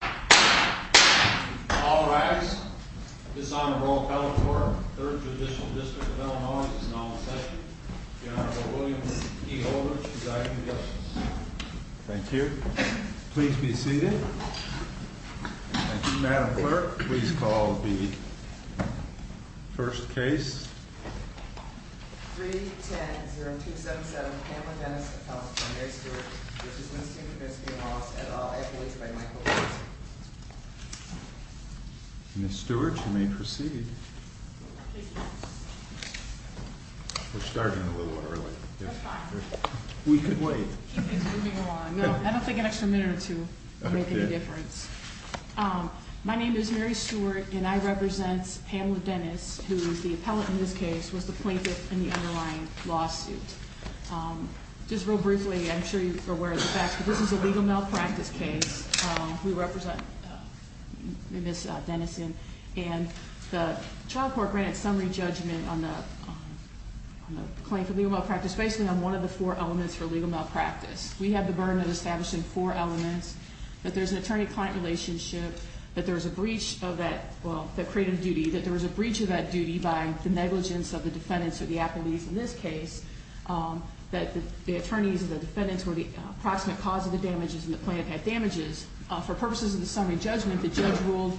All rise. This Honorable Appellate Court, 3rd Judicial District of Illinois, is now in session. Your Honorable William P. Holder, Presiding Justice. Thank you. Please be seated. Thank you, Madam Clerk. Please call the first case. 3-10-0277 Pamela Dennis, Appellate from Mary Stewart v. Winstein, Kavensky & Wallace, et al. Appellate by Michael Wilson. Ms. Stewart, you may proceed. Thank you. We're starting a little early. That's fine. We could wait. Keep things moving along. I don't think an extra minute or two would make any difference. My name is Mary Stewart, and I represent Pamela Dennis, who is the appellate in this case, was the plaintiff in the underlying lawsuit. Just real briefly, I'm sure you're aware of the facts, but this is a legal malpractice case. We represent Ms. Denison, and the trial court granted summary judgment on the claim for legal malpractice, basically on one of the four elements for legal malpractice. We have the burden of establishing four elements, that there's an attorney-client relationship, that there was a breach of that creative duty, that there was a breach of that duty by the negligence of the defendants or the appellees in this case, that the attorneys or the defendants were the approximate cause of the damages and the plaintiff had damages. For purposes of the summary judgment, the judge ruled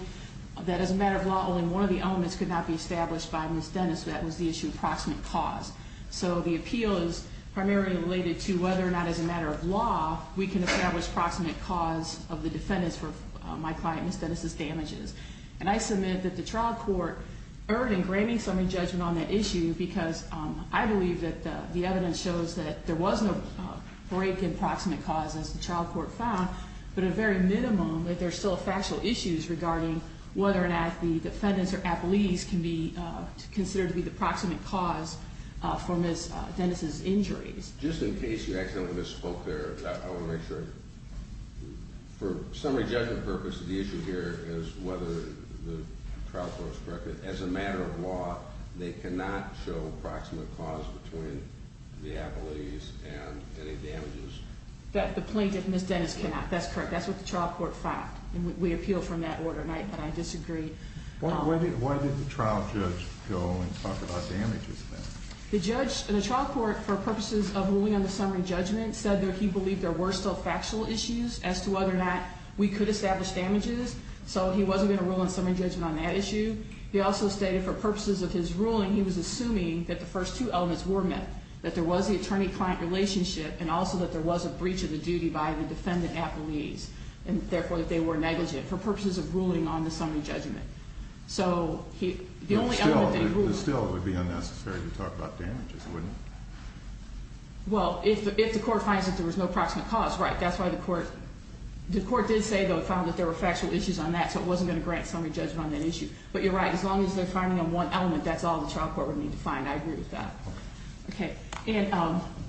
that as a matter of law, only one of the elements could not be established by Ms. Dennis. That was the issue of approximate cause. So the appeal is primarily related to whether or not, as a matter of law, we can establish approximate cause of the defendants for my client, Ms. Dennis' damages. And I submit that the trial court earned and granted summary judgment on that issue, because I believe that the evidence shows that there was no break in approximate cause, as the trial court found, but a very minimum that there's still factual issues regarding whether or not the defendants or appellees can be considered to be the approximate cause for Ms. Dennis' injuries. Just in case you accidentally misspoke there, I want to make sure. For summary judgment purposes, the issue here is whether the trial court has corrected, as a matter of law, they cannot show approximate cause between the appellees and any damages. The plaintiff, Ms. Dennis, cannot. That's correct. That's what the trial court found. We appealed from that order, and I disagree. Why did the trial judge go and talk about damages then? The trial court, for purposes of ruling on the summary judgment, said that he believed there were still factual issues as to whether or not we could establish damages, so he wasn't going to rule on summary judgment on that issue. He also stated, for purposes of his ruling, he was assuming that the first two elements were met, that there was the attorney-client relationship, and also that there was a breach of the duty by the defendant-appellees, and therefore that they were negligent, for purposes of ruling on the summary judgment. Still, it would be unnecessary to talk about damages, wouldn't it? Well, if the court finds that there was no approximate cause, right. That's why the court did say, though, it found that there were factual issues on that, so it wasn't going to grant summary judgment on that issue. But you're right. As long as they're finding on one element, that's all the trial court would need to find. I agree with that. Okay. And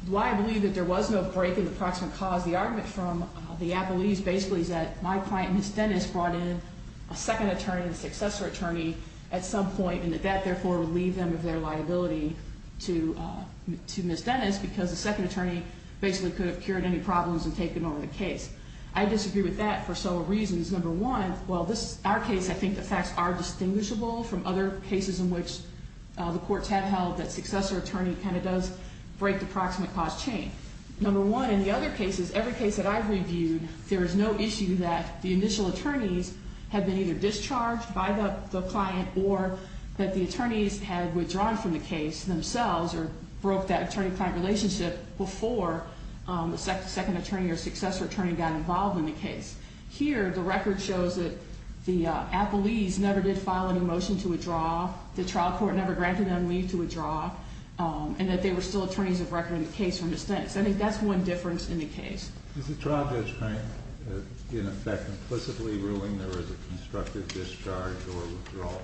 why I believe that there was no break in the approximate cause, the argument from the appellees, basically, is that my client, Ms. Dennis, brought in a second attorney and a successor attorney at some point, and that that, therefore, would leave them with their liability to Ms. Dennis, because the second attorney basically could have cured any problems and taken over the case. I disagree with that for several reasons. Number one, well, this is our case. I think the facts are distinguishable from other cases in which the courts have held that successor attorney kind of does break the approximate cause chain. Number one, in the other cases, every case that I've reviewed, there is no issue that the initial attorneys had been either discharged by the client or that the attorneys had withdrawn from the case themselves or broke that attorney-client relationship before the second attorney or successor attorney got involved in the case. Here, the record shows that the appellees never did file any motion to withdraw. The trial court never granted them leave to withdraw, and that they were still attorneys of record in the case from Ms. Dennis. I think that's one difference in the case. Is the trial judge, Frank, in effect implicitly ruling there is a constructive discharge or withdrawal?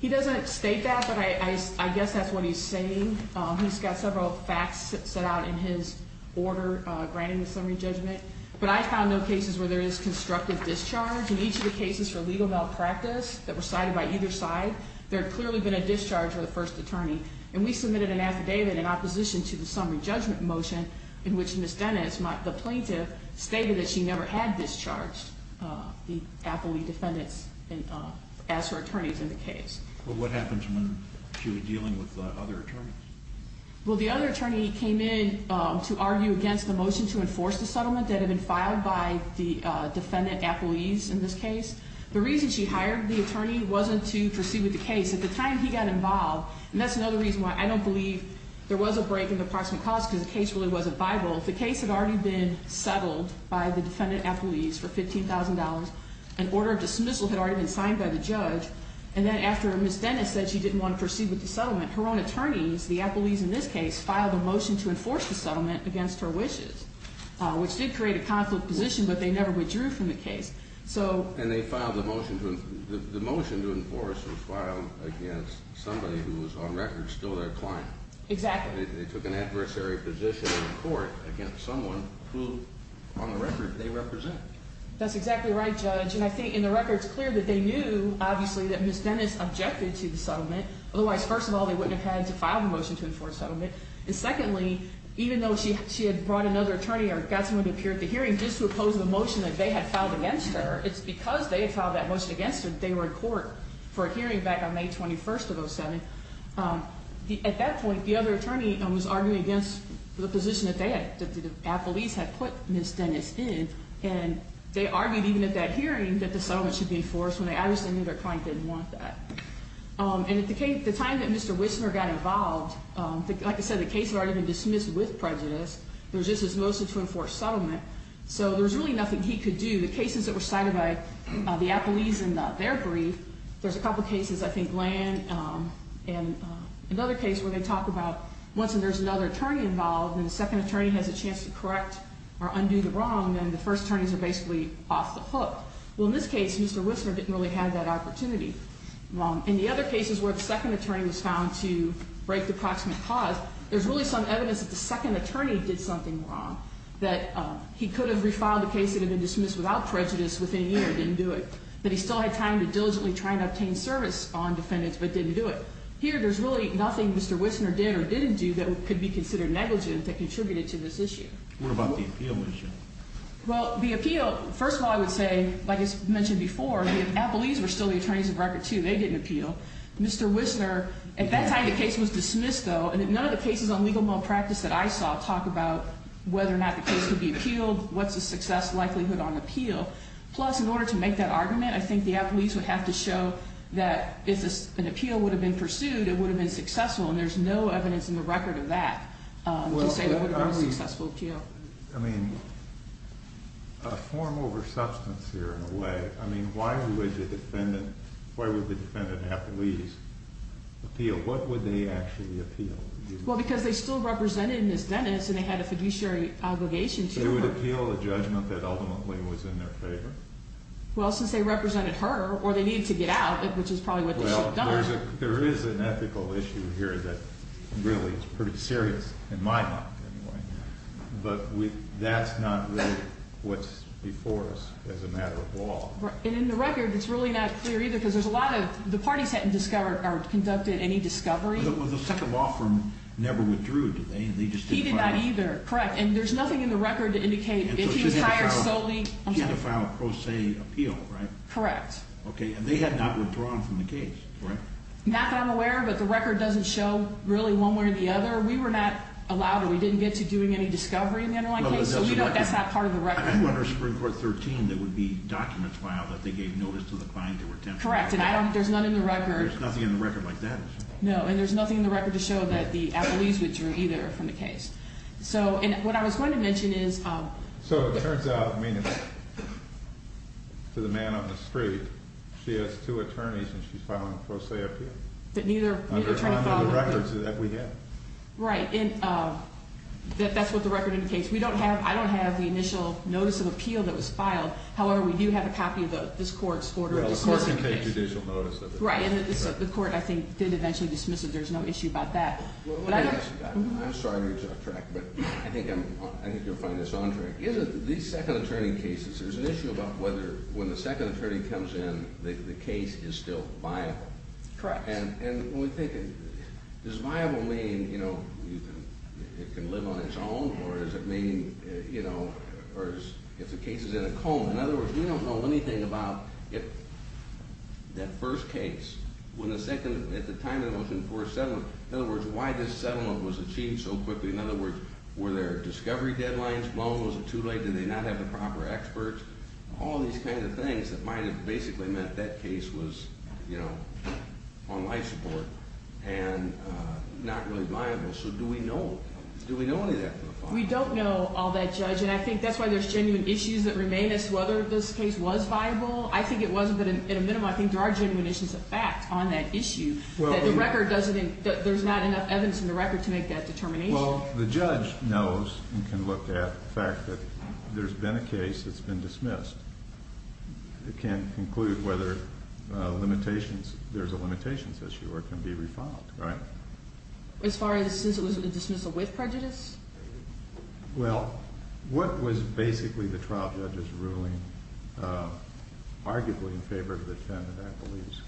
He doesn't state that, but I guess that's what he's saying. He's got several facts set out in his order granting the summary judgment. But I found no cases where there is constructive discharge. In each of the cases for legal malpractice that were cited by either side, there had clearly been a discharge of the first attorney, and we submitted an affidavit in opposition to the summary judgment motion in which Ms. Dennis, the plaintiff, stated that she never had discharged the appellee defendants as her attorneys in the case. Well, what happened when she was dealing with the other attorneys? Well, the other attorney came in to argue against the motion to enforce the settlement that had been filed by the defendant appellees in this case. The reason she hired the attorney wasn't to proceed with the case. At the time he got involved, and that's another reason why I don't believe there was a break in the approximate cost because the case really wasn't viable. The case had already been settled by the defendant appellees for $15,000. An order of dismissal had already been signed by the judge. And then after Ms. Dennis said she didn't want to proceed with the settlement, her own attorneys, the appellees in this case, filed a motion to enforce the settlement against her wishes, which did create a conflict position, but they never withdrew from the case. And the motion to enforce was filed against somebody who was on record still their client. Exactly. They took an adversary position in court against someone who, on the record, they represent. That's exactly right, Judge. And I think in the record it's clear that they knew, obviously, that Ms. Dennis objected to the settlement. Otherwise, first of all, they wouldn't have had to file the motion to enforce settlement. And secondly, even though she had brought another attorney or got someone to appear at the hearing just to oppose the motion that they had filed against her, it's because they had filed that motion against her that they were in court for a hearing back on May 21st of 2007. At that point, the other attorney was arguing against the position that the appellees had put Ms. Dennis in, and they argued even at that hearing that the settlement should be enforced when they obviously knew their client didn't want that. And at the time that Mr. Wisner got involved, like I said, the case had already been dismissed with prejudice. There was just this motion to enforce settlement. So there was really nothing he could do. The cases that were cited by the appellees in their brief, there's a couple cases, I think, Gland and another case where they talk about once there's another attorney involved and the second attorney has a chance to correct or undo the wrong, then the first attorneys are basically off the hook. Well, in this case, Mr. Wisner didn't really have that opportunity. In the other cases where the second attorney was found to break the proximate clause, there's really some evidence that the second attorney did something wrong, that he could have refiled a case that had been dismissed without prejudice within a year and didn't do it, that he still had time to diligently try and obtain service on defendants but didn't do it. Here, there's really nothing Mr. Wisner did or didn't do that could be considered negligent that contributed to this issue. What about the appeal issue? Well, the appeal, first of all, I would say, like I mentioned before, the appellees were still the attorneys of record, too. They didn't appeal. Mr. Wisner, at that time the case was dismissed, though, and none of the cases on legal malpractice that I saw talk about whether or not the case could be appealed, what's the success likelihood on appeal. Plus, in order to make that argument, I think the appellees would have to show that if an appeal would have been pursued, it would have been successful, and there's no evidence in the record of that to say it would have been a successful appeal. Well, I mean, a form over substance here, in a way. I mean, why would the defendant, why would the defendant appellees appeal? What would they actually appeal? Well, because they still represented Ms. Dennis and they had a fiduciary obligation to her. They would appeal a judgment that ultimately was in their favor? Well, since they represented her or they needed to get out, which is probably what they should have done. There is an ethical issue here that really is pretty serious, in my mind, anyway. But that's not really what's before us as a matter of law. And in the record, it's really not clear either because there's a lot of, the parties hadn't discovered or conducted any discovery. The Second Law Firm never withdrew, did they? He did not either, correct. And there's nothing in the record to indicate if he's hired solely. She had to file a pro se appeal, right? Correct. Okay, and they had not withdrawn from the case, correct? Not that I'm aware of, but the record doesn't show really one way or the other. We were not allowed or we didn't get to doing any discovery in the underlying case, so we don't guess that part of the record. Under Supreme Court 13, there would be documents filed that they gave notice to the client that were temporary. Correct, and I don't, there's none in the record. There's nothing in the record like that. No, and there's nothing in the record to show that the appellees withdrew either from the case. So, and what I was going to mention is. So, it turns out, I mean, to the man on the street, she has two attorneys and she's filing a pro se appeal? That neither attorney filed. Under the records that we have. Right, and that's what the record indicates. We don't have, I don't have the initial notice of appeal that was filed. However, we do have a copy of this court's order of dismissal case. Well, the court can take judicial notice of it. Right, and the court, I think, did eventually dismiss it. There's no issue about that. I'm sorry to interrupt, but I think you'll find this on track. These second attorney cases, there's an issue about whether, when the second attorney comes in, the case is still viable. Correct. And we're thinking, does viable mean, you know, it can live on its own? Or does it mean, you know, if the case is in a cone? In other words, we don't know anything about if that first case, when the second, at the time of the motion for settlement. In other words, why this settlement was achieved so quickly. In other words, were there discovery deadlines blown? Was it too late? Did they not have the proper experts? All these kinds of things that might have basically meant that case was, you know, on life support. And not really viable. So, do we know? Do we know any of that from the file? We don't know all that, Judge. And I think that's why there's genuine issues that remain as to whether this case was viable. I think it wasn't, but in a minimum, I think there are genuine issues of fact on that issue. The record doesn't, there's not enough evidence in the record to make that determination. Well, the judge knows and can look at the fact that there's been a case that's been dismissed. It can conclude whether limitations, there's a limitations issue or it can be refiled, right? As far as since it was a dismissal with prejudice? Well, what was basically the trial judge's ruling, arguably in favor of the defendant, I believe?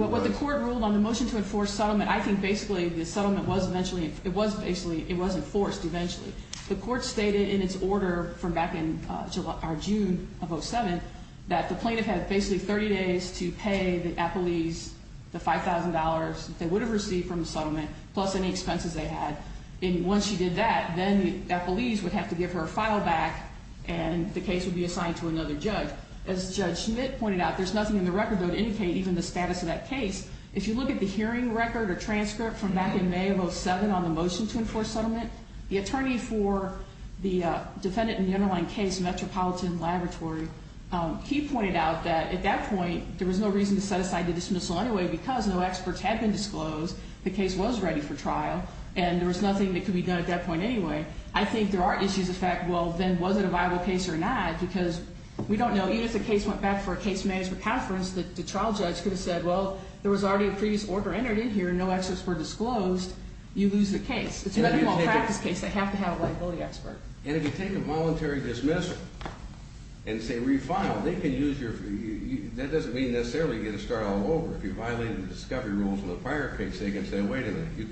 Well, what the court ruled on the motion to enforce settlement, I think basically the settlement was eventually, it was basically, it was enforced eventually. The court stated in its order from back in June of 07 that the plaintiff had basically 30 days to pay the appellees the $5,000 they would have received from the settlement plus any expenses they had. And once she did that, then the appellees would have to give her a file back and the case would be assigned to another judge. As Judge Schmidt pointed out, there's nothing in the record, though, to indicate even the status of that case. If you look at the hearing record or transcript from back in May of 07 on the motion to enforce settlement, the attorney for the defendant in the underlying case, Metropolitan Laboratory, he pointed out that at that point there was no reason to set aside the dismissal anyway because no experts had been disclosed. The case was ready for trial and there was nothing that could be done at that point anyway. I think there are issues of fact, well, then was it a viable case or not? Because we don't know, even if the case went back for a case management conference, the trial judge could have said, well, there was already a previous order entered in here, no experts were disclosed, you lose the case. It's a medical practice case. They have to have a liability expert. And if you take a voluntary dismissal and say refile, they can use your, that doesn't mean necessarily you get to start all over. If you violate the discovery rules in the prior case, they can say, wait a minute, you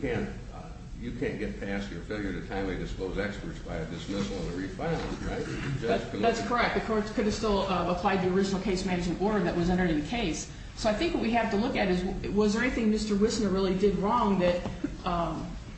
can't get past your failure to timely disclose experts by a dismissal and a refiling, right? That's correct. The court could have still applied the original case management order that was entered in the case. So I think what we have to look at is was there anything Mr. Wissner really did wrong that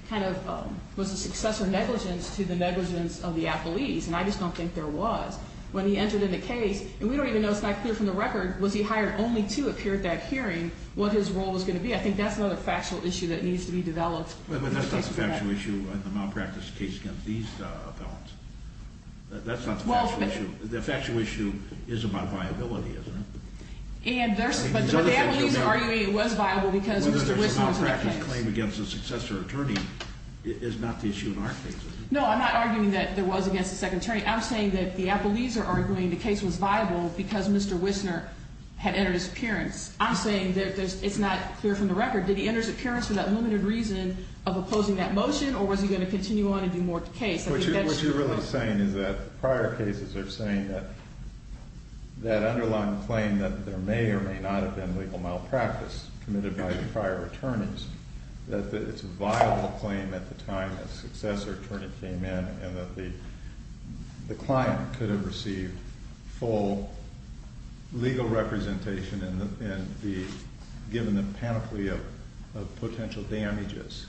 kind of was a success or negligence to the negligence of the appellees? And I just don't think there was. When he entered in the case, and we don't even know, it's not clear from the record, was he hired only to appear at that hearing, what his role was going to be? I think that's another factual issue that needs to be developed. But that's not the factual issue in the malpractice case against these appellants. That's not the factual issue. The factual issue is about viability, isn't it? But the appellees are arguing it was viable because Mr. Wissner was in the case. Whether there's a malpractice claim against a successor attorney is not the issue in our case. No, I'm not arguing that there was against a second attorney. I'm saying that the appellees are arguing the case was viable because Mr. Wissner had entered his appearance. I'm saying it's not clear from the record. Did he enter his appearance for that limited reason of opposing that motion, or was he going to continue on and do more to the case? What you're really saying is that prior cases are saying that that underlying claim that there may or may not have been legal malpractice committed by the prior attorneys, that it's a viable claim at the time a successor attorney came in and that the client could have received full legal representation and be given the panoply of potential damages.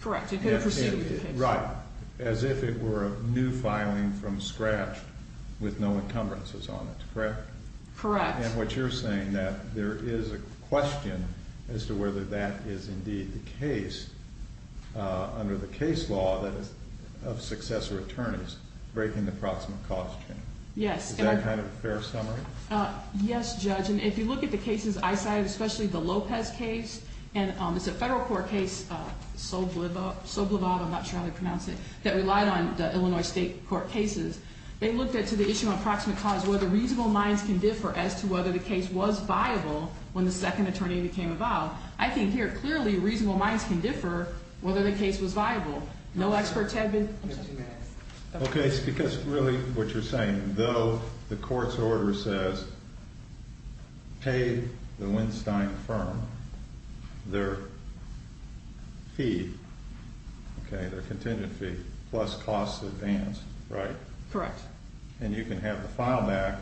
Correct. It could have proceeded the case. Right. As if it were a new filing from scratch with no encumbrances on it, correct? Correct. And what you're saying that there is a question as to whether that is indeed the case under the case law that is of successor attorneys breaking the proximate cause chain. Yes. Is that kind of a fair summary? Yes, Judge. And if you look at the cases I cited, especially the Lopez case, and it's a federal court case, Soblovod, I'm not sure how to pronounce it, that relied on the Illinois state court cases, they looked into the issue of approximate cause, whether reasonable minds can differ as to whether the case was viable when the second attorney became involved. I think here clearly reasonable minds can differ whether the case was viable. No experts have been. Okay. It's because really what you're saying, though the court's order says pay the Winstein firm their fee, their contingent fee, plus costs advanced, right? Correct. And you can have the file back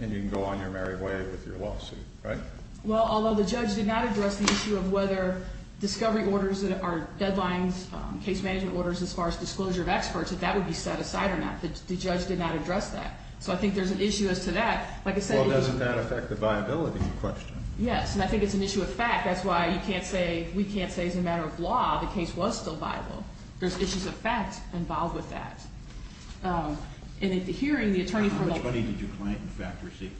and you can go on your merry way with your lawsuit, right? Well, although the judge did not address the issue of whether discovery orders that are deadlines, case management orders as far as disclosure of experts, if that would be set aside or not. The judge did not address that. So I think there's an issue as to that. Well, doesn't that affect the viability of the question? Yes, and I think it's an issue of fact. That's why you can't say, we can't say as a matter of law the case was still viable. There's issues of fact involved with that. And at the hearing, the attorney from the- How much money did your client, in fact, receive?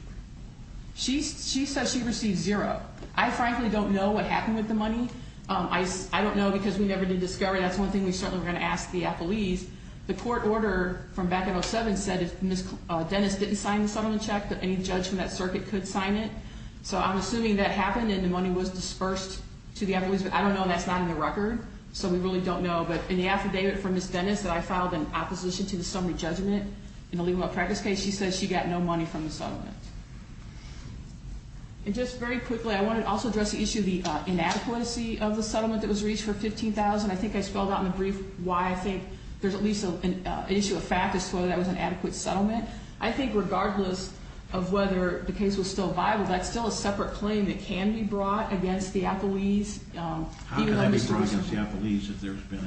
She says she received zero. I frankly don't know what happened with the money. I don't know because we never did discover. That's one thing we certainly were going to ask the appellees. The court order from back in 2007 said if Ms. Dennis didn't sign the settlement check, that any judge from that circuit could sign it. So I'm assuming that happened and the money was dispersed to the appellees. But I don't know, and that's not in the record, so we really don't know. But in the affidavit from Ms. Dennis that I filed in opposition to the summary judgment in the legal practice case, she says she got no money from the settlement. And just very quickly, I want to also address the issue of the inadequacy of the settlement that was reached for $15,000. I think I spelled out in the brief why I think there's at least an issue of fact as to whether that was an adequate settlement. I think regardless of whether the case was still viable, that's still a separate claim that can be brought against the appellees. How can that be brought against the appellees if there's been a-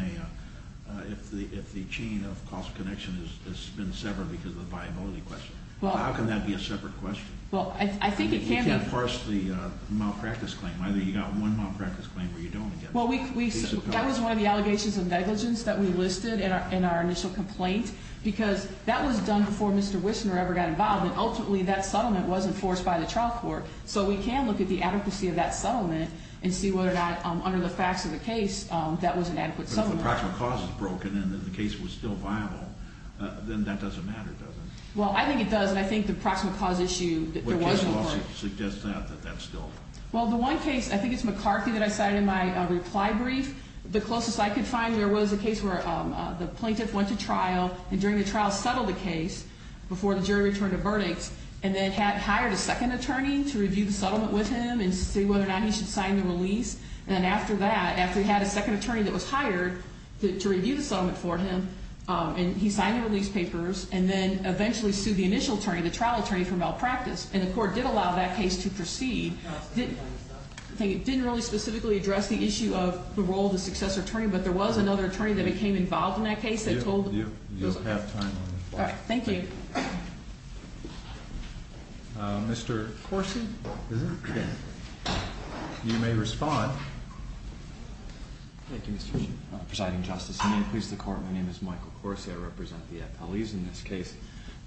How can that be a separate question? Well, I think it can be. You can't force the malpractice claim. Either you got one malpractice claim or you don't. That was one of the allegations of negligence that we listed in our initial complaint because that was done before Mr. Wissner ever got involved, and ultimately that settlement was enforced by the trial court. So we can look at the adequacy of that settlement and see whether or not under the facts of the case that was an adequate settlement. But if the proximate cause is broken and the case was still viable, then that doesn't matter, does it? Well, I think it does, and I think the proximate cause issue that there was- What case law suggests that, that that's still- Well, the one case, I think it's McCarthy that I cited in my reply brief. The closest I could find there was a case where the plaintiff went to trial and during the trial settled the case before the jury returned a verdict and then had hired a second attorney to review the settlement with him and see whether or not he should sign the release. And then after that, after he had a second attorney that was hired to review the settlement for him, he signed the release papers and then eventually sued the initial attorney, the trial attorney, for malpractice. And the court did allow that case to proceed. It didn't really specifically address the issue of the role of the successor attorney, but there was another attorney that became involved in that case that told- You just have time on your phone. All right. Thank you. Mr. Corsi? You may respond. Thank you, Mr. Chief. Presiding Justice, and may it please the Court, my name is Michael Corsi. I represent the appellees in this case.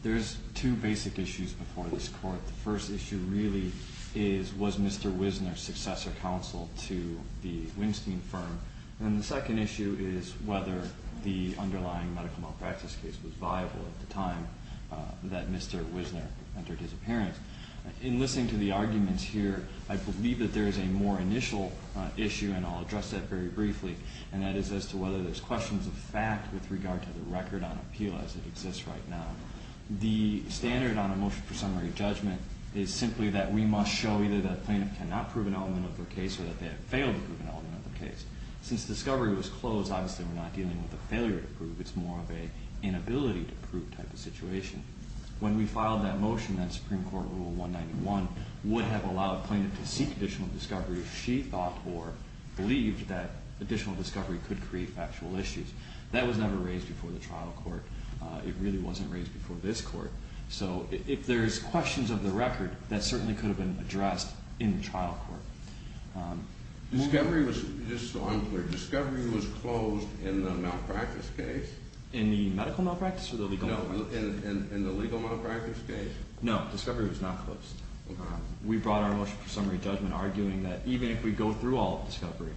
There's two basic issues before this Court. The first issue really is was Mr. Wisner successor counsel to the Winstein firm? And the second issue is whether the underlying medical malpractice case was viable at the time that Mr. Wisner entered his appearance. In listening to the arguments here, I believe that there is a more initial issue, and I'll address that very briefly, and that is as to whether there's questions of fact with regard to the record on appeal as it exists right now. The standard on a motion for summary judgment is simply that we must show either that a plaintiff cannot prove an element of their case or that they have failed to prove an element of their case. Since discovery was closed, obviously we're not dealing with a failure to prove. It's more of an inability to prove type of situation. When we filed that motion, that Supreme Court Rule 191 would have allowed a plaintiff to seek additional discovery if she thought or believed that additional discovery could create factual issues. That was never raised before the trial court. It really wasn't raised before this Court. So if there's questions of the record, that certainly could have been addressed in the trial court. Discovery was, just so I'm clear, discovery was closed in the malpractice case? In the medical malpractice or the legal malpractice? No, in the legal malpractice case. No, discovery was not closed. We brought our motion for summary judgment arguing that even if we go through all of discovery,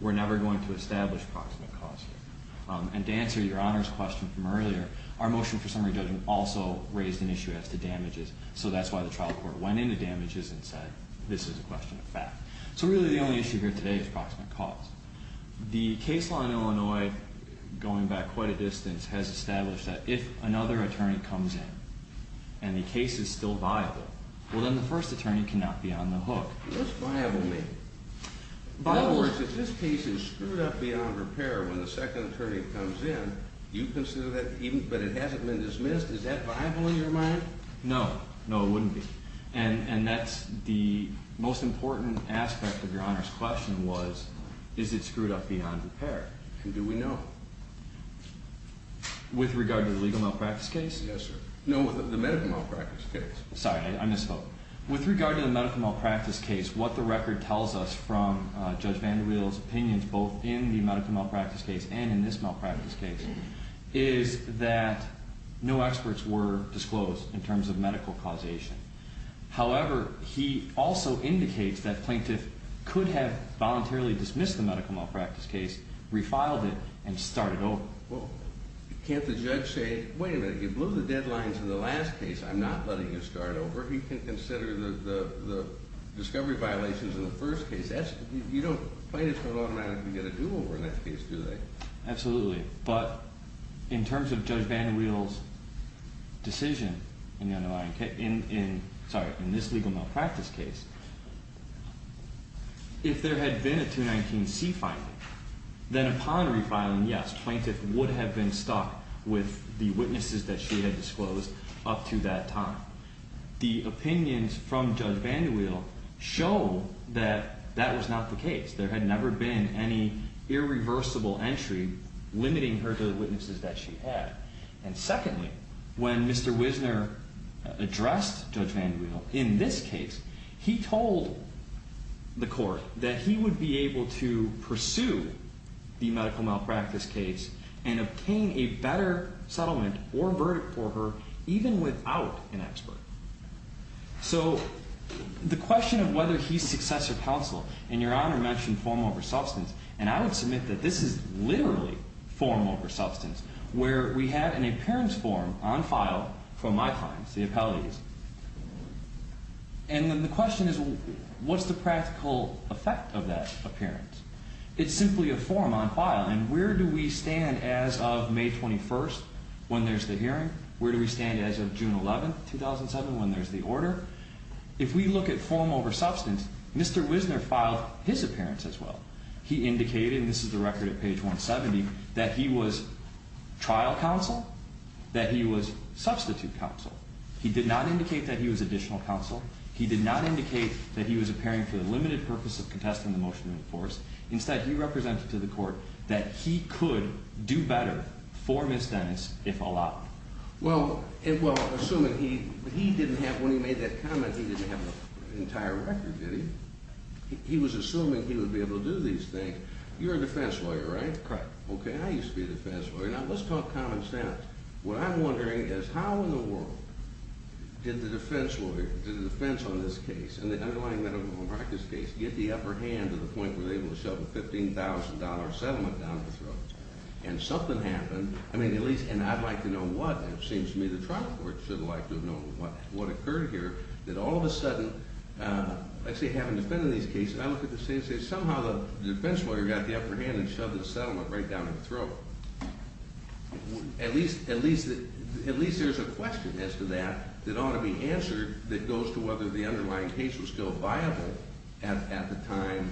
we're never going to establish proximate cause here. And to answer your Honor's question from earlier, our motion for summary judgment also raised an issue as to damages, so that's why the trial court went into damages and said this is a question of fact. So really the only issue here today is proximate cause. The case law in Illinois, going back quite a distance, has established that if another attorney comes in and the case is still viable, well then the first attorney cannot be on the hook. What does viable mean? In other words, if this case is screwed up beyond repair when the second attorney comes in, you consider that even, but it hasn't been dismissed, is that viable in your mind? No, no it wouldn't be. And that's the most important aspect of your Honor's question was, is it screwed up beyond repair? And do we know? With regard to the legal malpractice case? Yes, sir. No, the medical malpractice case. Sorry, I misspoke. With regard to the medical malpractice case, what the record tells us from Judge VanderWheel's opinions, both in the medical malpractice case and in this malpractice case, is that no experts were disclosed in terms of medical causation. However, he also indicates that plaintiff could have voluntarily dismissed the medical malpractice case, refiled it, and started over. Well, can't the judge say, wait a minute, you blew the deadlines in the last case, I'm not letting you start over. He can consider the discovery violations in the first case. Plaintiffs don't automatically get a do-over in that case, do they? Absolutely. But in terms of Judge VanderWheel's decision in this legal malpractice case, if there had been a 219C finding, then upon refiling, yes, plaintiff would have been stuck with the witnesses that she had disclosed up to that time. The opinions from Judge VanderWheel show that that was not the case. There had never been any irreversible entry limiting her to the witnesses that she had. And secondly, when Mr. Wisner addressed Judge VanderWheel in this case, he told the court that he would be able to pursue the medical malpractice case and obtain a better settlement or verdict for her even without an expert. So the question of whether he's successor counsel, and Your Honor mentioned form over substance, and I would submit that this is literally form over substance, where we have an appearance form on file from my clients, the appellees. And then the question is, what's the practical effect of that appearance? It's simply a form on file, and where do we stand as of May 21st when there's the hearing? Where do we stand as of June 11th, 2007, when there's the order? If we look at form over substance, Mr. Wisner filed his appearance as well. He indicated, and this is the record at page 170, that he was trial counsel, that he was substitute counsel. He did not indicate that he was additional counsel. He did not indicate that he was appearing for the limited purpose of contesting the motion in force. Instead, he represented to the court that he could do better for Ms. Dennis if allowed. Well, assuming he didn't have, when he made that comment, he didn't have an entire record, did he? He was assuming he would be able to do these things. You're a defense lawyer, right? Correct. Okay, I used to be a defense lawyer. Now, let's talk common sense. What I'm wondering is how in the world did the defense lawyer, the defense on this case, and the underlying medical practice case, get the upper hand to the point where they were able to shove a $15,000 settlement down his throat? And something happened. I mean, at least, and I'd like to know what. It seems to me the trial court should have liked to have known what occurred here. That all of a sudden, let's say having defended these cases, I look at the case and say somehow the defense lawyer got the upper hand and shoved the settlement right down his throat. At least there's a question as to that that ought to be answered that goes to whether the underlying case was still viable at the time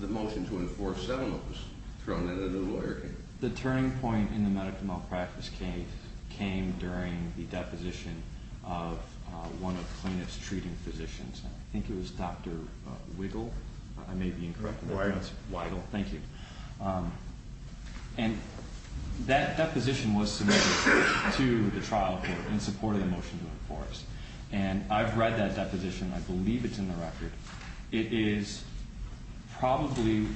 the motion to enforce settlement was thrown in at the lawyer. The turning point in the medical malpractice case came during the deposition of one of the cleanest treating physicians. I think it was Dr. Wiggle. I may be incorrect. Weigel. Weigel. Thank you. And that deposition was submitted to the trial court in support of the motion to enforce. And I've read that deposition. I believe it's in the record. It is probably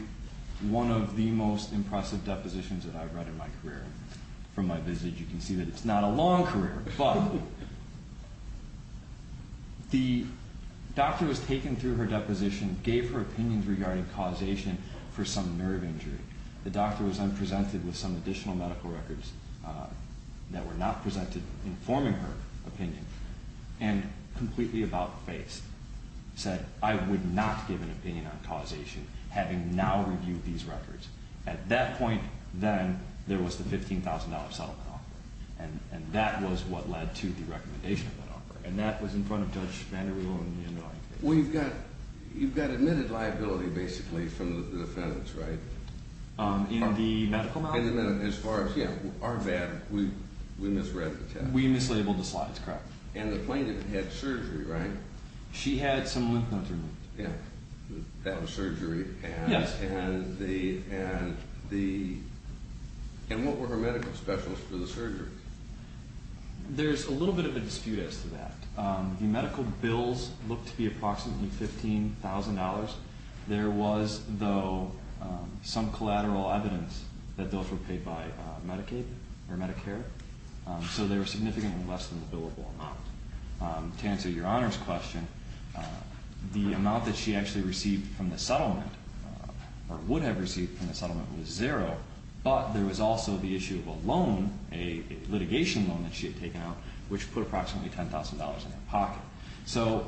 one of the most impressive depositions that I've read in my career. From my visit, you can see that it's not a long career. But the doctor was taken through her deposition, gave her opinions regarding causation for some nerve injury. The doctor was then presented with some additional medical records that were not presented informing her opinion and completely about-faced, said I would not give an opinion on causation having now reviewed these records. At that point, then, there was the $15,000 settlement offer. And that was what led to the recommendation of that offer. And that was in front of Judge Vander Weigel. Well, you've got admitted liability, basically, from the defendants, right? In the medical malpractice? As far as, yeah, our VAD, we misread the text. We mislabeled the slides. Correct. And the plaintiff had surgery, right? She had some lymph nodes removed. Yeah. That was surgery. Yes. And what were her medical specialists for the surgery? There's a little bit of a dispute as to that. The medical bills looked to be approximately $15,000. There was, though, some collateral evidence that those were paid by Medicaid or Medicare. So they were significantly less than the billable amount. To answer Your Honor's question, the amount that she actually received from the settlement or would have received from the settlement was zero. But there was also the issue of a loan, a litigation loan that she had taken out, which put approximately $10,000 in her pocket. So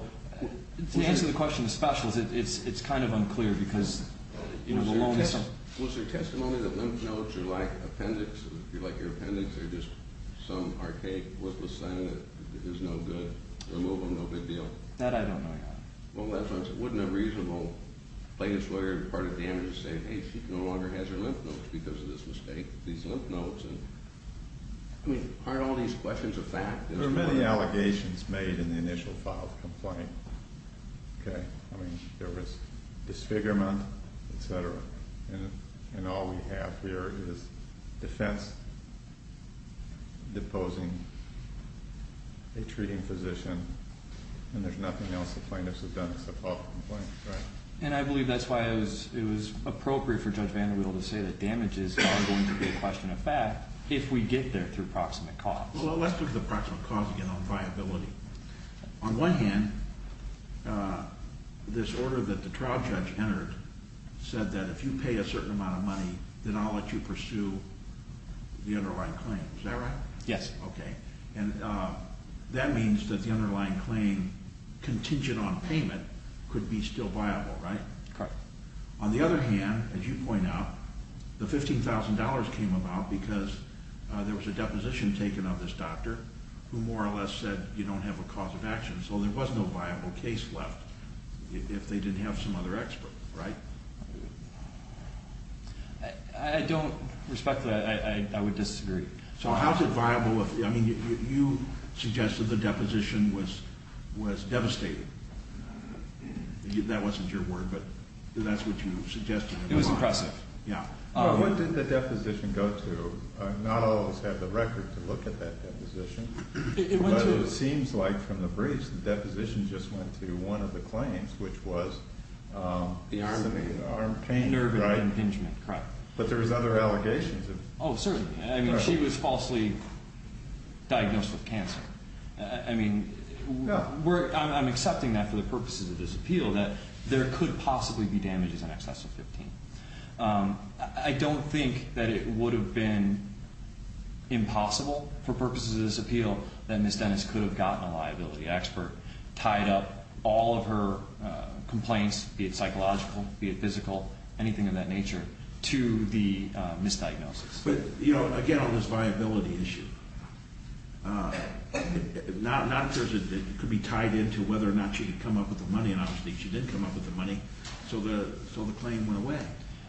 to answer the question of specialists, it's kind of unclear because, you know, the loan is so – Was there testimony that lymph nodes are like appendix, like your appendix, they're just some archaic liposynthesis that is no good, remove them, no big deal? That I don't know, Your Honor. Well, that sounds – wouldn't a reasonable plaintiff's lawyer be part of damages saying, hey, she no longer has her lymph nodes because of this mistake, these lymph nodes? I mean, aren't all these questions a fact? There were many allegations made in the initial file of the complaint, okay? I mean, there was disfigurement, et cetera. And all we have here is defense deposing a treating physician, and there's nothing else the plaintiff's has done except file the complaint, right? And I believe that's why it was appropriate for Judge Vanderbilt to say that damages are going to be a question of fact if we get there through proximate cause. Well, let's look at the proximate cause again on viability. On one hand, this order that the trial judge entered said that if you pay a certain amount of money, then I'll let you pursue the underlying claim. Is that right? Yes. Okay. And that means that the underlying claim contingent on payment could be still viable, right? Correct. On the other hand, as you point out, the $15,000 came about because there was a deposition taken of this doctor who more or less said you don't have a cause of action, so there was no viable case left if they didn't have some other expert, right? I don't respect that. I would disagree. So how is it viable? I mean, you suggested the deposition was devastating. That wasn't your word, but that's what you suggested. It was impressive. Yeah. What did the deposition go to? Not all of us have the record to look at that deposition, but it seems like from the briefs the deposition just went to one of the claims, which was the arm pain, right? Nerve impingement, correct. But there was other allegations. Oh, certainly. I mean, she was falsely diagnosed with cancer. I mean, I'm accepting that for the purposes of this appeal, that there could possibly be damages in excess of $15,000. I don't think that it would have been impossible for purposes of this appeal that Ms. Dennis could have gotten a liability expert, tied up all of her complaints, be it psychological, be it physical, anything of that nature, to the misdiagnosis. But, you know, again, on this viability issue, not because it could be tied into whether or not she could come up with the money, and obviously she didn't come up with the money, so the claim went away,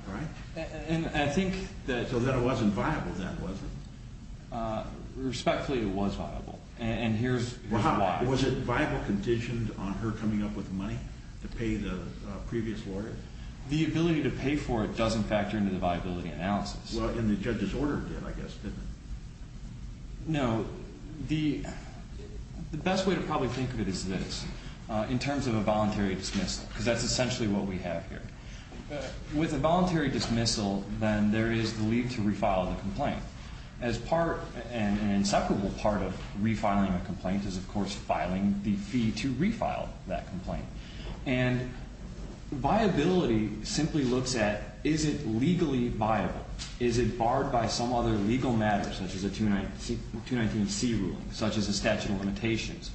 right? And I think that... So then it wasn't viable then, was it? Respectfully, it was viable. And here's why. Was it viable conditioned on her coming up with the money to pay the previous lawyer? The ability to pay for it doesn't factor into the viability analysis. Well, and the judge's order did, I guess, didn't it? No. The best way to probably think of it is this. In terms of a voluntary dismissal, because that's essentially what we have here. With a voluntary dismissal, then there is the leave to refile the complaint. As part and an inseparable part of refiling a complaint is, of course, filing the fee to refile that complaint. And viability simply looks at, is it legally viable? Is it barred by some other legal matter, such as a 219C ruling, such as a statute of limitations?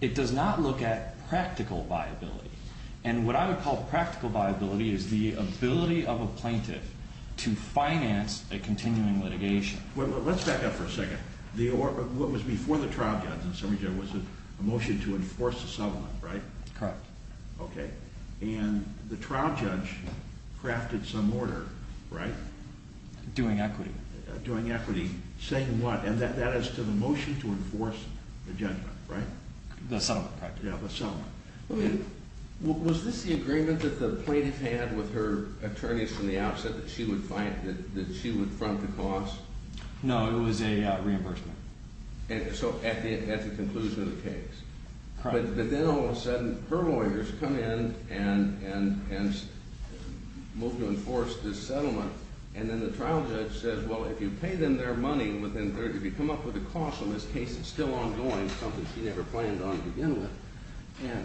It does not look at practical viability. And what I would call practical viability is the ability of a plaintiff to finance a continuing litigation. Well, let's back up for a second. What was before the trial judge and the summary judge was a motion to enforce the settlement, right? Correct. Okay. And the trial judge crafted some order, right? Doing equity. Doing equity. Saying what? And that is to the motion to enforce the judgment, right? The settlement, correct. Yeah, the settlement. Was this the agreement that the plaintiff had with her attorneys from the outset that she would front the cost? No, it was a reimbursement. So at the conclusion of the case. Correct. But then all of a sudden, her lawyers come in and move to enforce this settlement. And then the trial judge says, well, if you pay them their money, if you come up with a cost on this case that's still ongoing, something she never planned on to begin with,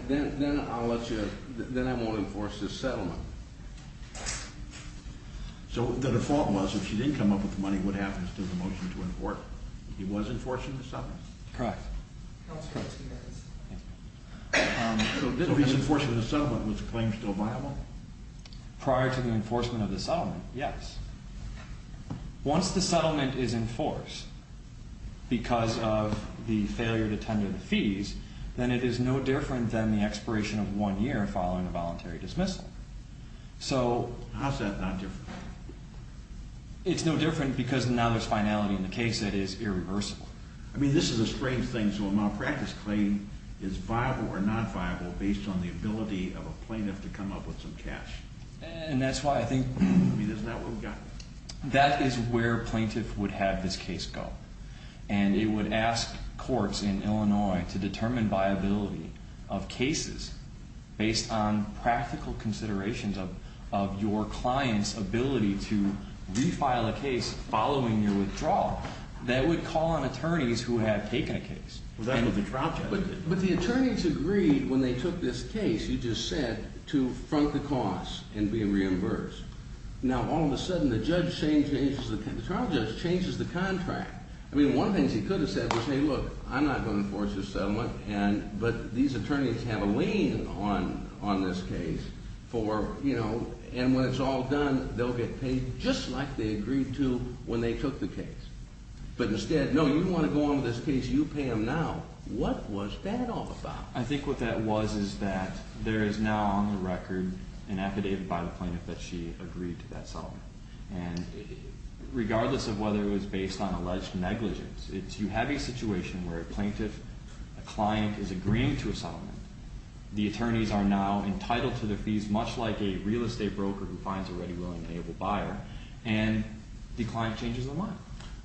then I won't enforce this settlement. So the default was if she didn't come up with the money, what happens to the motion to enforce? He was enforcing the settlement. Correct. So he's enforcing the settlement. Was the claim still viable? Prior to the enforcement of the settlement, yes. Once the settlement is enforced because of the failure to tender the fees, then it is no different than the expiration of one year following a voluntary dismissal. So how's that not different? It's no different because now there's finality in the case that is irreversible. I mean, this is a strange thing. So a malpractice claim is viable or not viable based on the ability of a plaintiff to come up with some cash. And that's why I think. I mean, isn't that what we've got? That is where a plaintiff would have this case go. And it would ask courts in Illinois to determine viability of cases based on practical considerations of your client's ability to refile a case following your withdrawal. That would call on attorneys who have taken a case. But the attorneys agreed when they took this case, you just said, to front the cost in being reimbursed. Now, all of a sudden, the trial judge changes the contract. I mean, one of the things he could have said was, hey, look, I'm not going to enforce this settlement, but these attorneys have a lien on this case. And when it's all done, they'll get paid just like they agreed to when they took the case. But instead, no, you want to go on with this case, you pay them now. What was that all about? I think what that was is that there is now on the record an affidavit by the plaintiff that she agreed to that settlement. And regardless of whether it was based on alleged negligence, if you have a situation where a plaintiff, a client, is agreeing to a settlement, the attorneys are now entitled to the fees much like a real estate broker who finds a ready, willing, and able buyer, and the client changes the line.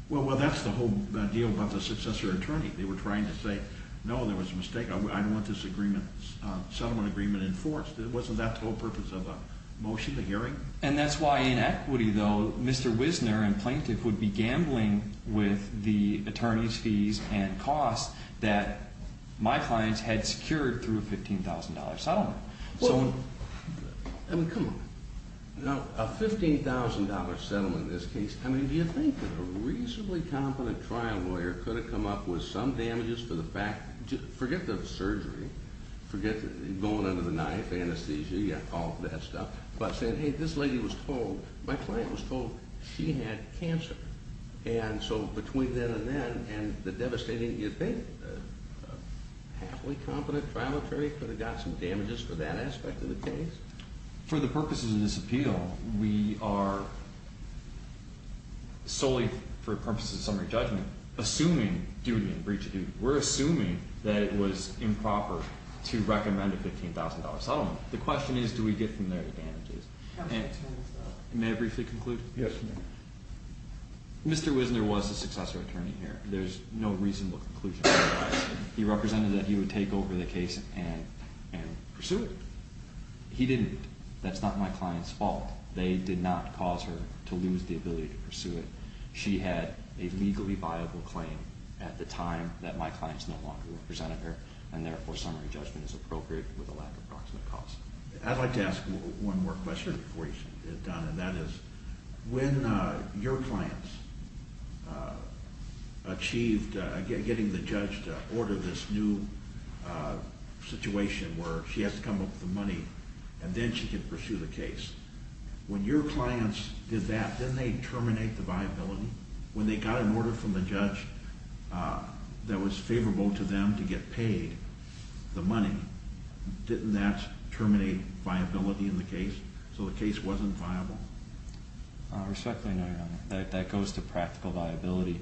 Well, that's the whole deal about the successor attorney. They were trying to say, no, there was a mistake. I don't want this settlement agreement enforced. It wasn't that the whole purpose of a motion, a hearing. And that's why in equity, though, Mr. Wisner and plaintiff would be gambling with the attorney's fees and costs that my clients had secured through a $15,000 settlement. Well, I mean, come on. Now, a $15,000 settlement in this case, I mean, do you think that a reasonably competent trial lawyer could have come up with some damages for the fact forget the surgery, forget going under the knife, anesthesia, all that stuff, but saying, hey, this lady was told, my client was told she had cancer. And so between then and then and the devastating, do you think a happily competent trial attorney could have got some damages for that aspect of the case? For the purposes of this appeal, we are solely, for purposes of summary judgment, assuming duty and breach of duty. We're assuming that it was improper to recommend a $15,000 settlement. The question is, do we get from there the damages? May I briefly conclude? Yes. Mr. Wisner was a successor attorney here. There's no reasonable conclusion. He represented that he would take over the case and pursue it. He didn't. That's not my client's fault. They did not cause her to lose the ability to pursue it. She had a legally viable claim at the time that my clients no longer represented her, and therefore summary judgment is appropriate with a lack of proximate cause. I'd like to ask one more question before you get done, and that is when your clients achieved getting the judge to order this new situation where she has to come up with the money and then she can pursue the case, when your clients did that, didn't they terminate the viability? When they got an order from the judge that was favorable to them to get paid the money, didn't that terminate viability in the case so the case wasn't viable? Respectfully no, Your Honor. That goes to practical viability.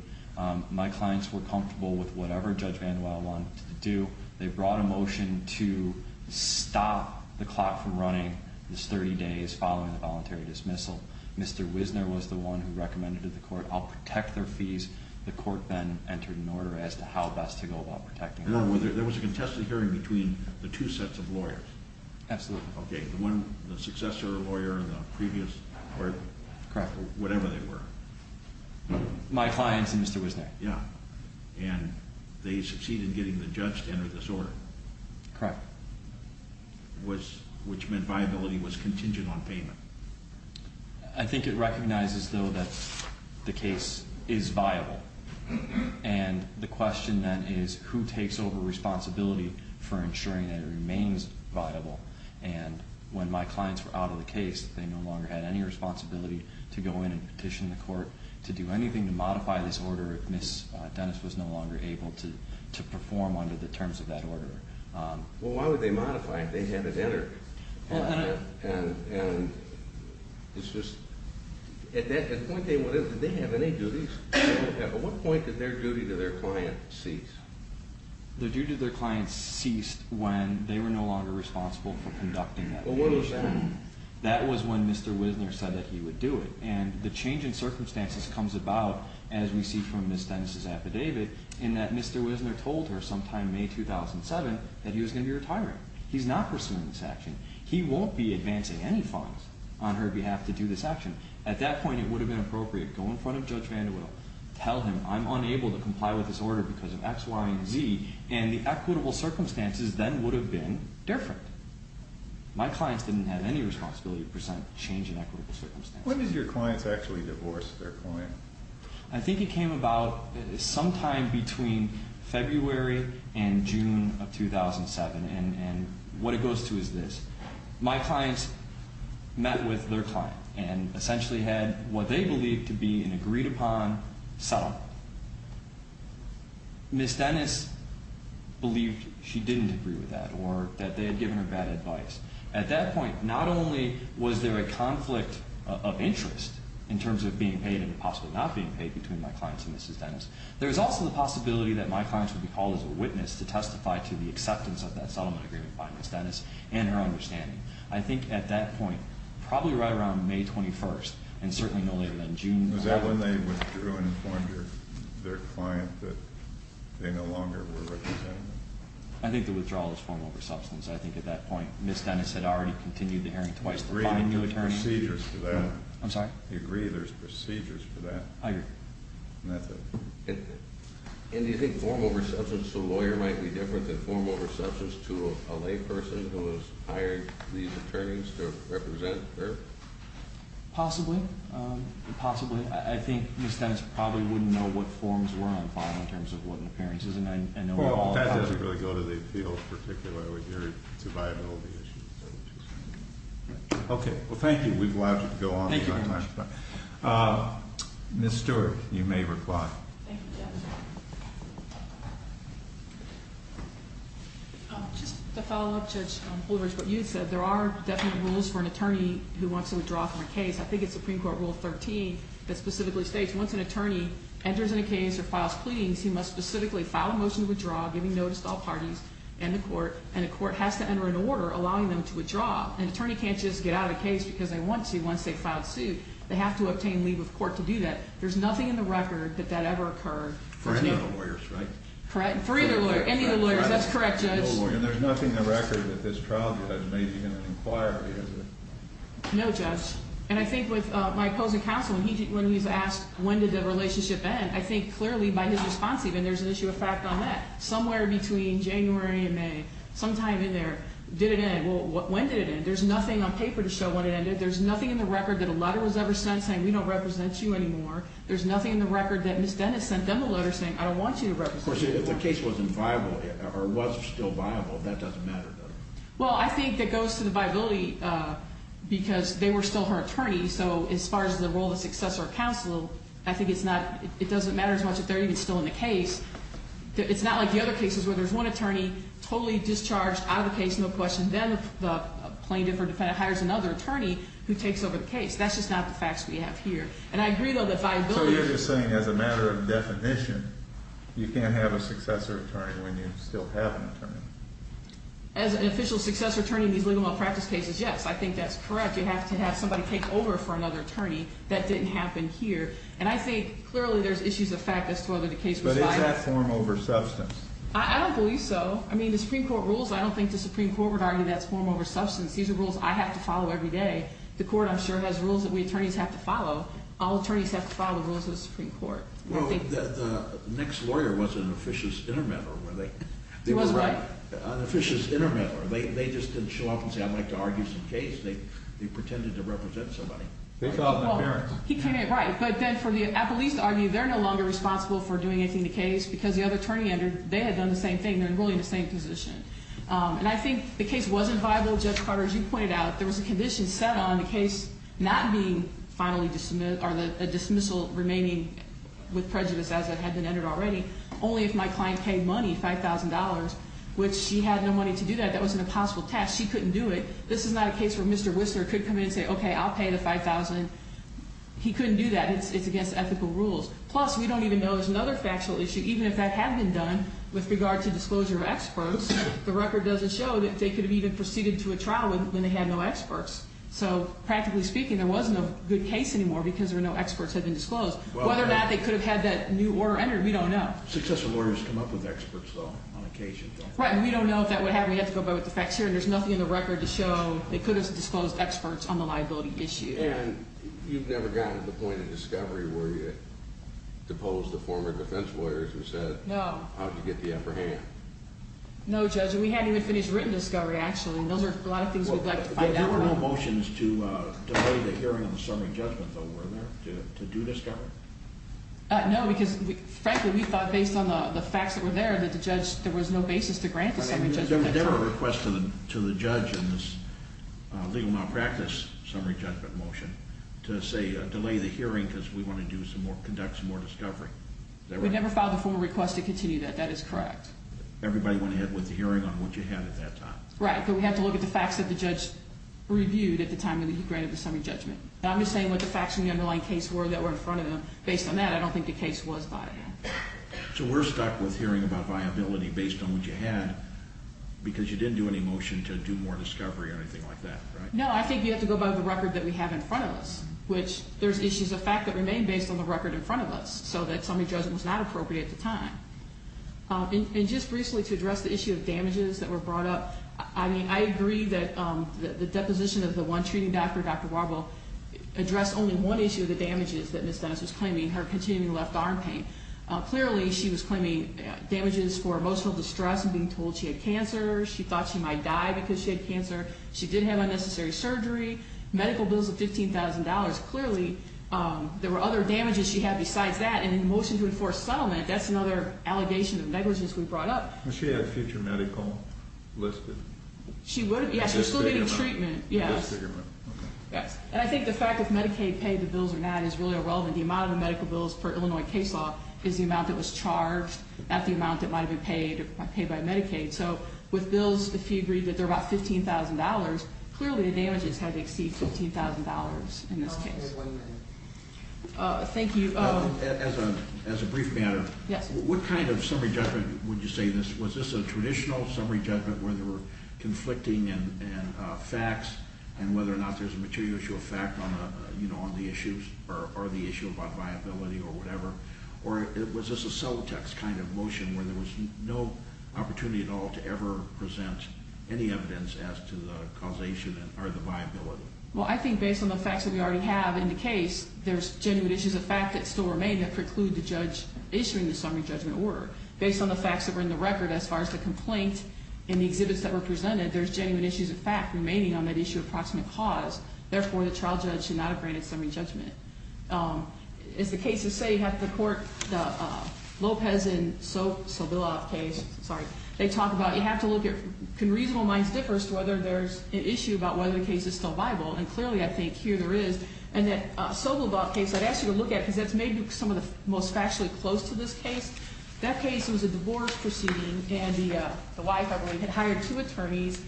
My clients were comfortable with whatever Judge Manuel wanted to do. They brought a motion to stop the clock from running this 30 days following the voluntary dismissal. Mr. Wisner was the one who recommended to the court I'll protect their fees. The court then entered an order as to how best to go about protecting them. There was a contested hearing between the two sets of lawyers? Absolutely. Okay, the successor lawyer and the previous lawyer? Correct. Whatever they were. My clients and Mr. Wisner. And they succeeded in getting the judge to enter this order? Correct. Which meant viability was contingent on payment? I think it recognizes, though, that the case is viable. And the question then is who takes over responsibility for ensuring that it remains viable? And when my clients were out of the case, to do anything to modify this order if Ms. Dennis was no longer able to perform under the terms of that order. Well, why would they modify it? They had it entered. And it's just at that point, did they have any duties? At what point did their duty to their client cease? Their duty to their client ceased when they were no longer responsible for conducting that hearing. Well, when was that? That was when Mr. Wisner said that he would do it. And the change in circumstances comes about, as we see from Ms. Dennis' affidavit, in that Mr. Wisner told her sometime in May 2007 that he was going to be retiring. He's not pursuing this action. He won't be advancing any fines on her behalf to do this action. At that point, it would have been appropriate to go in front of Judge Vandewidle, tell him I'm unable to comply with this order because of X, Y, and Z, and the equitable circumstances then would have been different. My clients didn't have any responsibility to present change in equitable circumstances. When did your clients actually divorce their client? I think it came about sometime between February and June of 2007. And what it goes to is this. My clients met with their client and essentially had what they believed to be an agreed-upon settlement. Ms. Dennis believed she didn't agree with that or that they had given her bad advice. At that point, not only was there a conflict of interest in terms of being paid and possibly not being paid between my clients and Ms. Dennis, there was also the possibility that my clients would be called as a witness to testify to the acceptance of that settlement agreement by Ms. Dennis and her understanding. I think at that point, probably right around May 21st, and certainly no later than June 11th. Was that when they withdrew and informed their client that they no longer were representing them? I think the withdrawal was form over substance. I think at that point, Ms. Dennis had already continued the hearing twice to find a new attorney. I agree there's procedures for that. I'm sorry? I agree there's procedures for that. I agree. And that's it. And do you think form over substance to a lawyer might be different than form over substance to a layperson who has hired these attorneys to represent her? Possibly. Possibly. I think Ms. Dennis probably wouldn't know what forms were on file in terms of what appearances. Well, that doesn't really go to the appeals particularly. It's a viability issue. Okay. Well, thank you. We'd love to go on. Thank you very much. Ms. Stewart, you may reply. Thank you, Judge. Just to follow up, Judge Blumberg, what you said, there are definite rules for an attorney who wants to withdraw from a case. I think it's Supreme Court Rule 13 that specifically states once an attorney enters in a case or files pleadings, he must specifically file a motion to withdraw, giving notice to all parties and the court, and the court has to enter an order allowing them to withdraw. An attorney can't just get out of the case because they want to once they've filed suit. They have to obtain leave of court to do that. There's nothing in the record that that ever occurred. For any of the lawyers, right? For either lawyer, any of the lawyers. That's correct, Judge. And there's nothing in the record that this trial judge may be going to inquire into. No, Judge. And I think with my opposing counsel, when he's asked when did the relationship end, I think clearly by his response even, there's an issue of fact on that. Somewhere between January and May, sometime in there, did it end? Well, when did it end? There's nothing on paper to show when it ended. There's nothing in the record that a letter was ever sent saying we don't represent you anymore. There's nothing in the record that Ms. Dennis sent them a letter saying I don't want you to represent me anymore. Of course, if the case wasn't viable or was still viable, that doesn't matter, does it? Well, I think that goes to the viability because they were still her attorneys, so as far as the role of successor counsel, I think it's not, it doesn't matter as much if they're even still in the case. It's not like the other cases where there's one attorney totally discharged out of the case, no question, then the plaintiff or defendant hires another attorney who takes over the case. That's just not the facts we have here. And I agree, though, that viability. So you're just saying as a matter of definition, you can't have a successor attorney when you still have an attorney? As an official successor attorney in these legal malpractice cases, yes. I think that's correct. You have to have somebody take over for another attorney. That didn't happen here. And I think clearly there's issues of fact as to whether the case was viable. But is that form over substance? I don't believe so. I mean, the Supreme Court rules, I don't think the Supreme Court would argue that's form over substance. These are rules I have to follow every day. The Court, I'm sure, has rules that we attorneys have to follow. All attorneys have to follow the rules of the Supreme Court. Well, the next lawyer was an officious intermenter. He was, right? An officious intermenter. They just didn't show up and say, I'd like to argue some case. They pretended to represent somebody. He came in, right. But then for the appellees to argue, they're no longer responsible for doing anything to the case because the other attorney entered. They had done the same thing. They're really in the same position. And I think the case wasn't viable. Judge Carter, as you pointed out, there was a condition set on the case not being finally dismissed or the dismissal remaining with prejudice as it had been entered already, only if my client paid money, $5,000, which she had no money to do that. That was an impossible task. She couldn't do it. This is not a case where Mr. Whistler could come in and say, okay, I'll pay the $5,000. He couldn't do that. It's against ethical rules. Plus, we don't even know there's another factual issue. Even if that had been done with regard to disclosure of experts, the record doesn't show that they could have even proceeded to a trial when they had no experts. So, practically speaking, there wasn't a good case anymore because there were no experts that had been disclosed. Whether or not they could have had that new order entered, we don't know. Successful lawyers come up with experts, though, on occasion. Right. And we don't know if that would happen. We have to go back with the facts here. There's nothing in the record to show they could have disclosed experts on the liability issue. And you've never gotten to the point of discovery where you had deposed the former defense lawyers who said, how did you get the upper hand? No, Judge. We hadn't even finished written discovery, actually. Those are a lot of things we'd like to find out about. There were no motions to delay the hearing on the summary judgment, though, were there, to do discovery? No, because, frankly, we thought, based on the facts that were there, that the judge, there was no basis to grant the summary judgment. There was never a request to the judge in this legal malpractice summary judgment motion to, say, delay the hearing because we want to conduct some more discovery. We never filed a formal request to continue that. That is correct. Everybody went ahead with the hearing on what you had at that time. Right, but we have to look at the facts that the judge reviewed at the time that he granted the summary judgment. I'm just saying what the facts in the underlying case were that were in front of him. Based on that, I don't think the case was viable. So we're stuck with hearing about viability based on what you had because you didn't do any motion to do more discovery or anything like that, right? No, I think you have to go by the record that we have in front of us, which there's issues of fact that remain based on the record in front of us, so that summary judgment was not appropriate at the time. And just briefly to address the issue of damages that were brought up, I mean, I agree that the deposition of the one treating doctor, Dr. Warble, addressed only one issue of the damages that Ms. Dennis was claiming, her continuing left arm pain. Clearly, she was claiming damages for emotional distress and being told she had cancer. She thought she might die because she had cancer. She did have unnecessary surgery, medical bills of $15,000. Clearly, there were other damages she had besides that. And in the motion to enforce settlement, that's another allegation of negligence we brought up. She had future medical listed. She would have. Yes, she was still getting treatment. Yes. Okay. Yes. And I think the fact that Medicaid paid the bills or not is really irrelevant. The amount of medical bills per Illinois case law is the amount that was charged at the amount that might have been paid by Medicaid. So with bills, if you agree that they're about $15,000, clearly the damages had to exceed $15,000 in this case. We have one minute. Thank you. As a brief matter. Yes. What kind of summary judgment would you say this? Was this a traditional summary judgment where there were conflicting facts and whether or not there's a material issue of fact on the issues or the issue about viability or whatever? Or was this a cell text kind of motion where there was no opportunity at all to ever present any evidence as to the causation or the viability? Well, I think based on the facts that we already have in the case, there's genuine issues of fact that still remain that preclude the judge issuing the summary judgment order. Based on the facts that were in the record as far as the complaint and the exhibits that were presented, there's genuine issues of fact remaining on that issue of approximate cause. Therefore, the trial judge should not have granted summary judgment. As the cases say, you have to court the Lopez and Sobolov case. Sorry. They talk about you have to look at can reasonable minds differ as to whether there's an issue about whether the case is still viable. And clearly, I think here there is. And that Sobolov case, I'd ask you to look at because that's maybe some of the most factually close to this case. That case was a divorce proceeding. And the wife, I believe, had hired two attorneys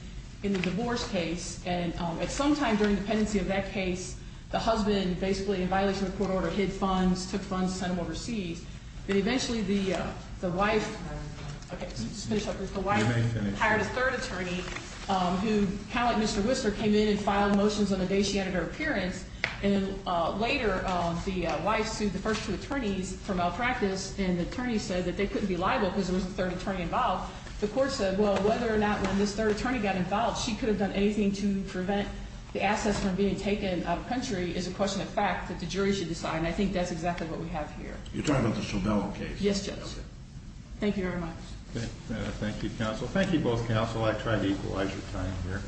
in the divorce case. And at some time during the pendency of that case, the husband basically, in violation of the court order, hid funds, took funds, sent them overseas. But eventually, the wife hired a third attorney who, kind of like Mr. Whistler, came in and filed motions on the day she entered her appearance. And later, the wife sued the first two attorneys for malpractice. And the attorney said that they couldn't be liable because there was a third attorney involved. The court said, well, whether or not when this third attorney got involved, she could have done anything to prevent the assets from being taken out of the country is a question of fact that the jury should decide. And I think that's exactly what we have here. You're talking about the Sobolov case? Yes, Judge. Okay. Thank you very much. Thank you, counsel. Thank you both, counsel. I tried to equalize your time here.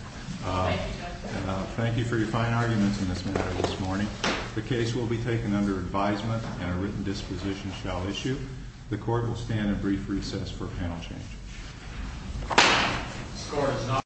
Thank you, Judge. Thank you for your fine arguments in this matter this morning. The case will be taken under advisement and a written disposition shall issue. The court will stand at brief recess for panel change.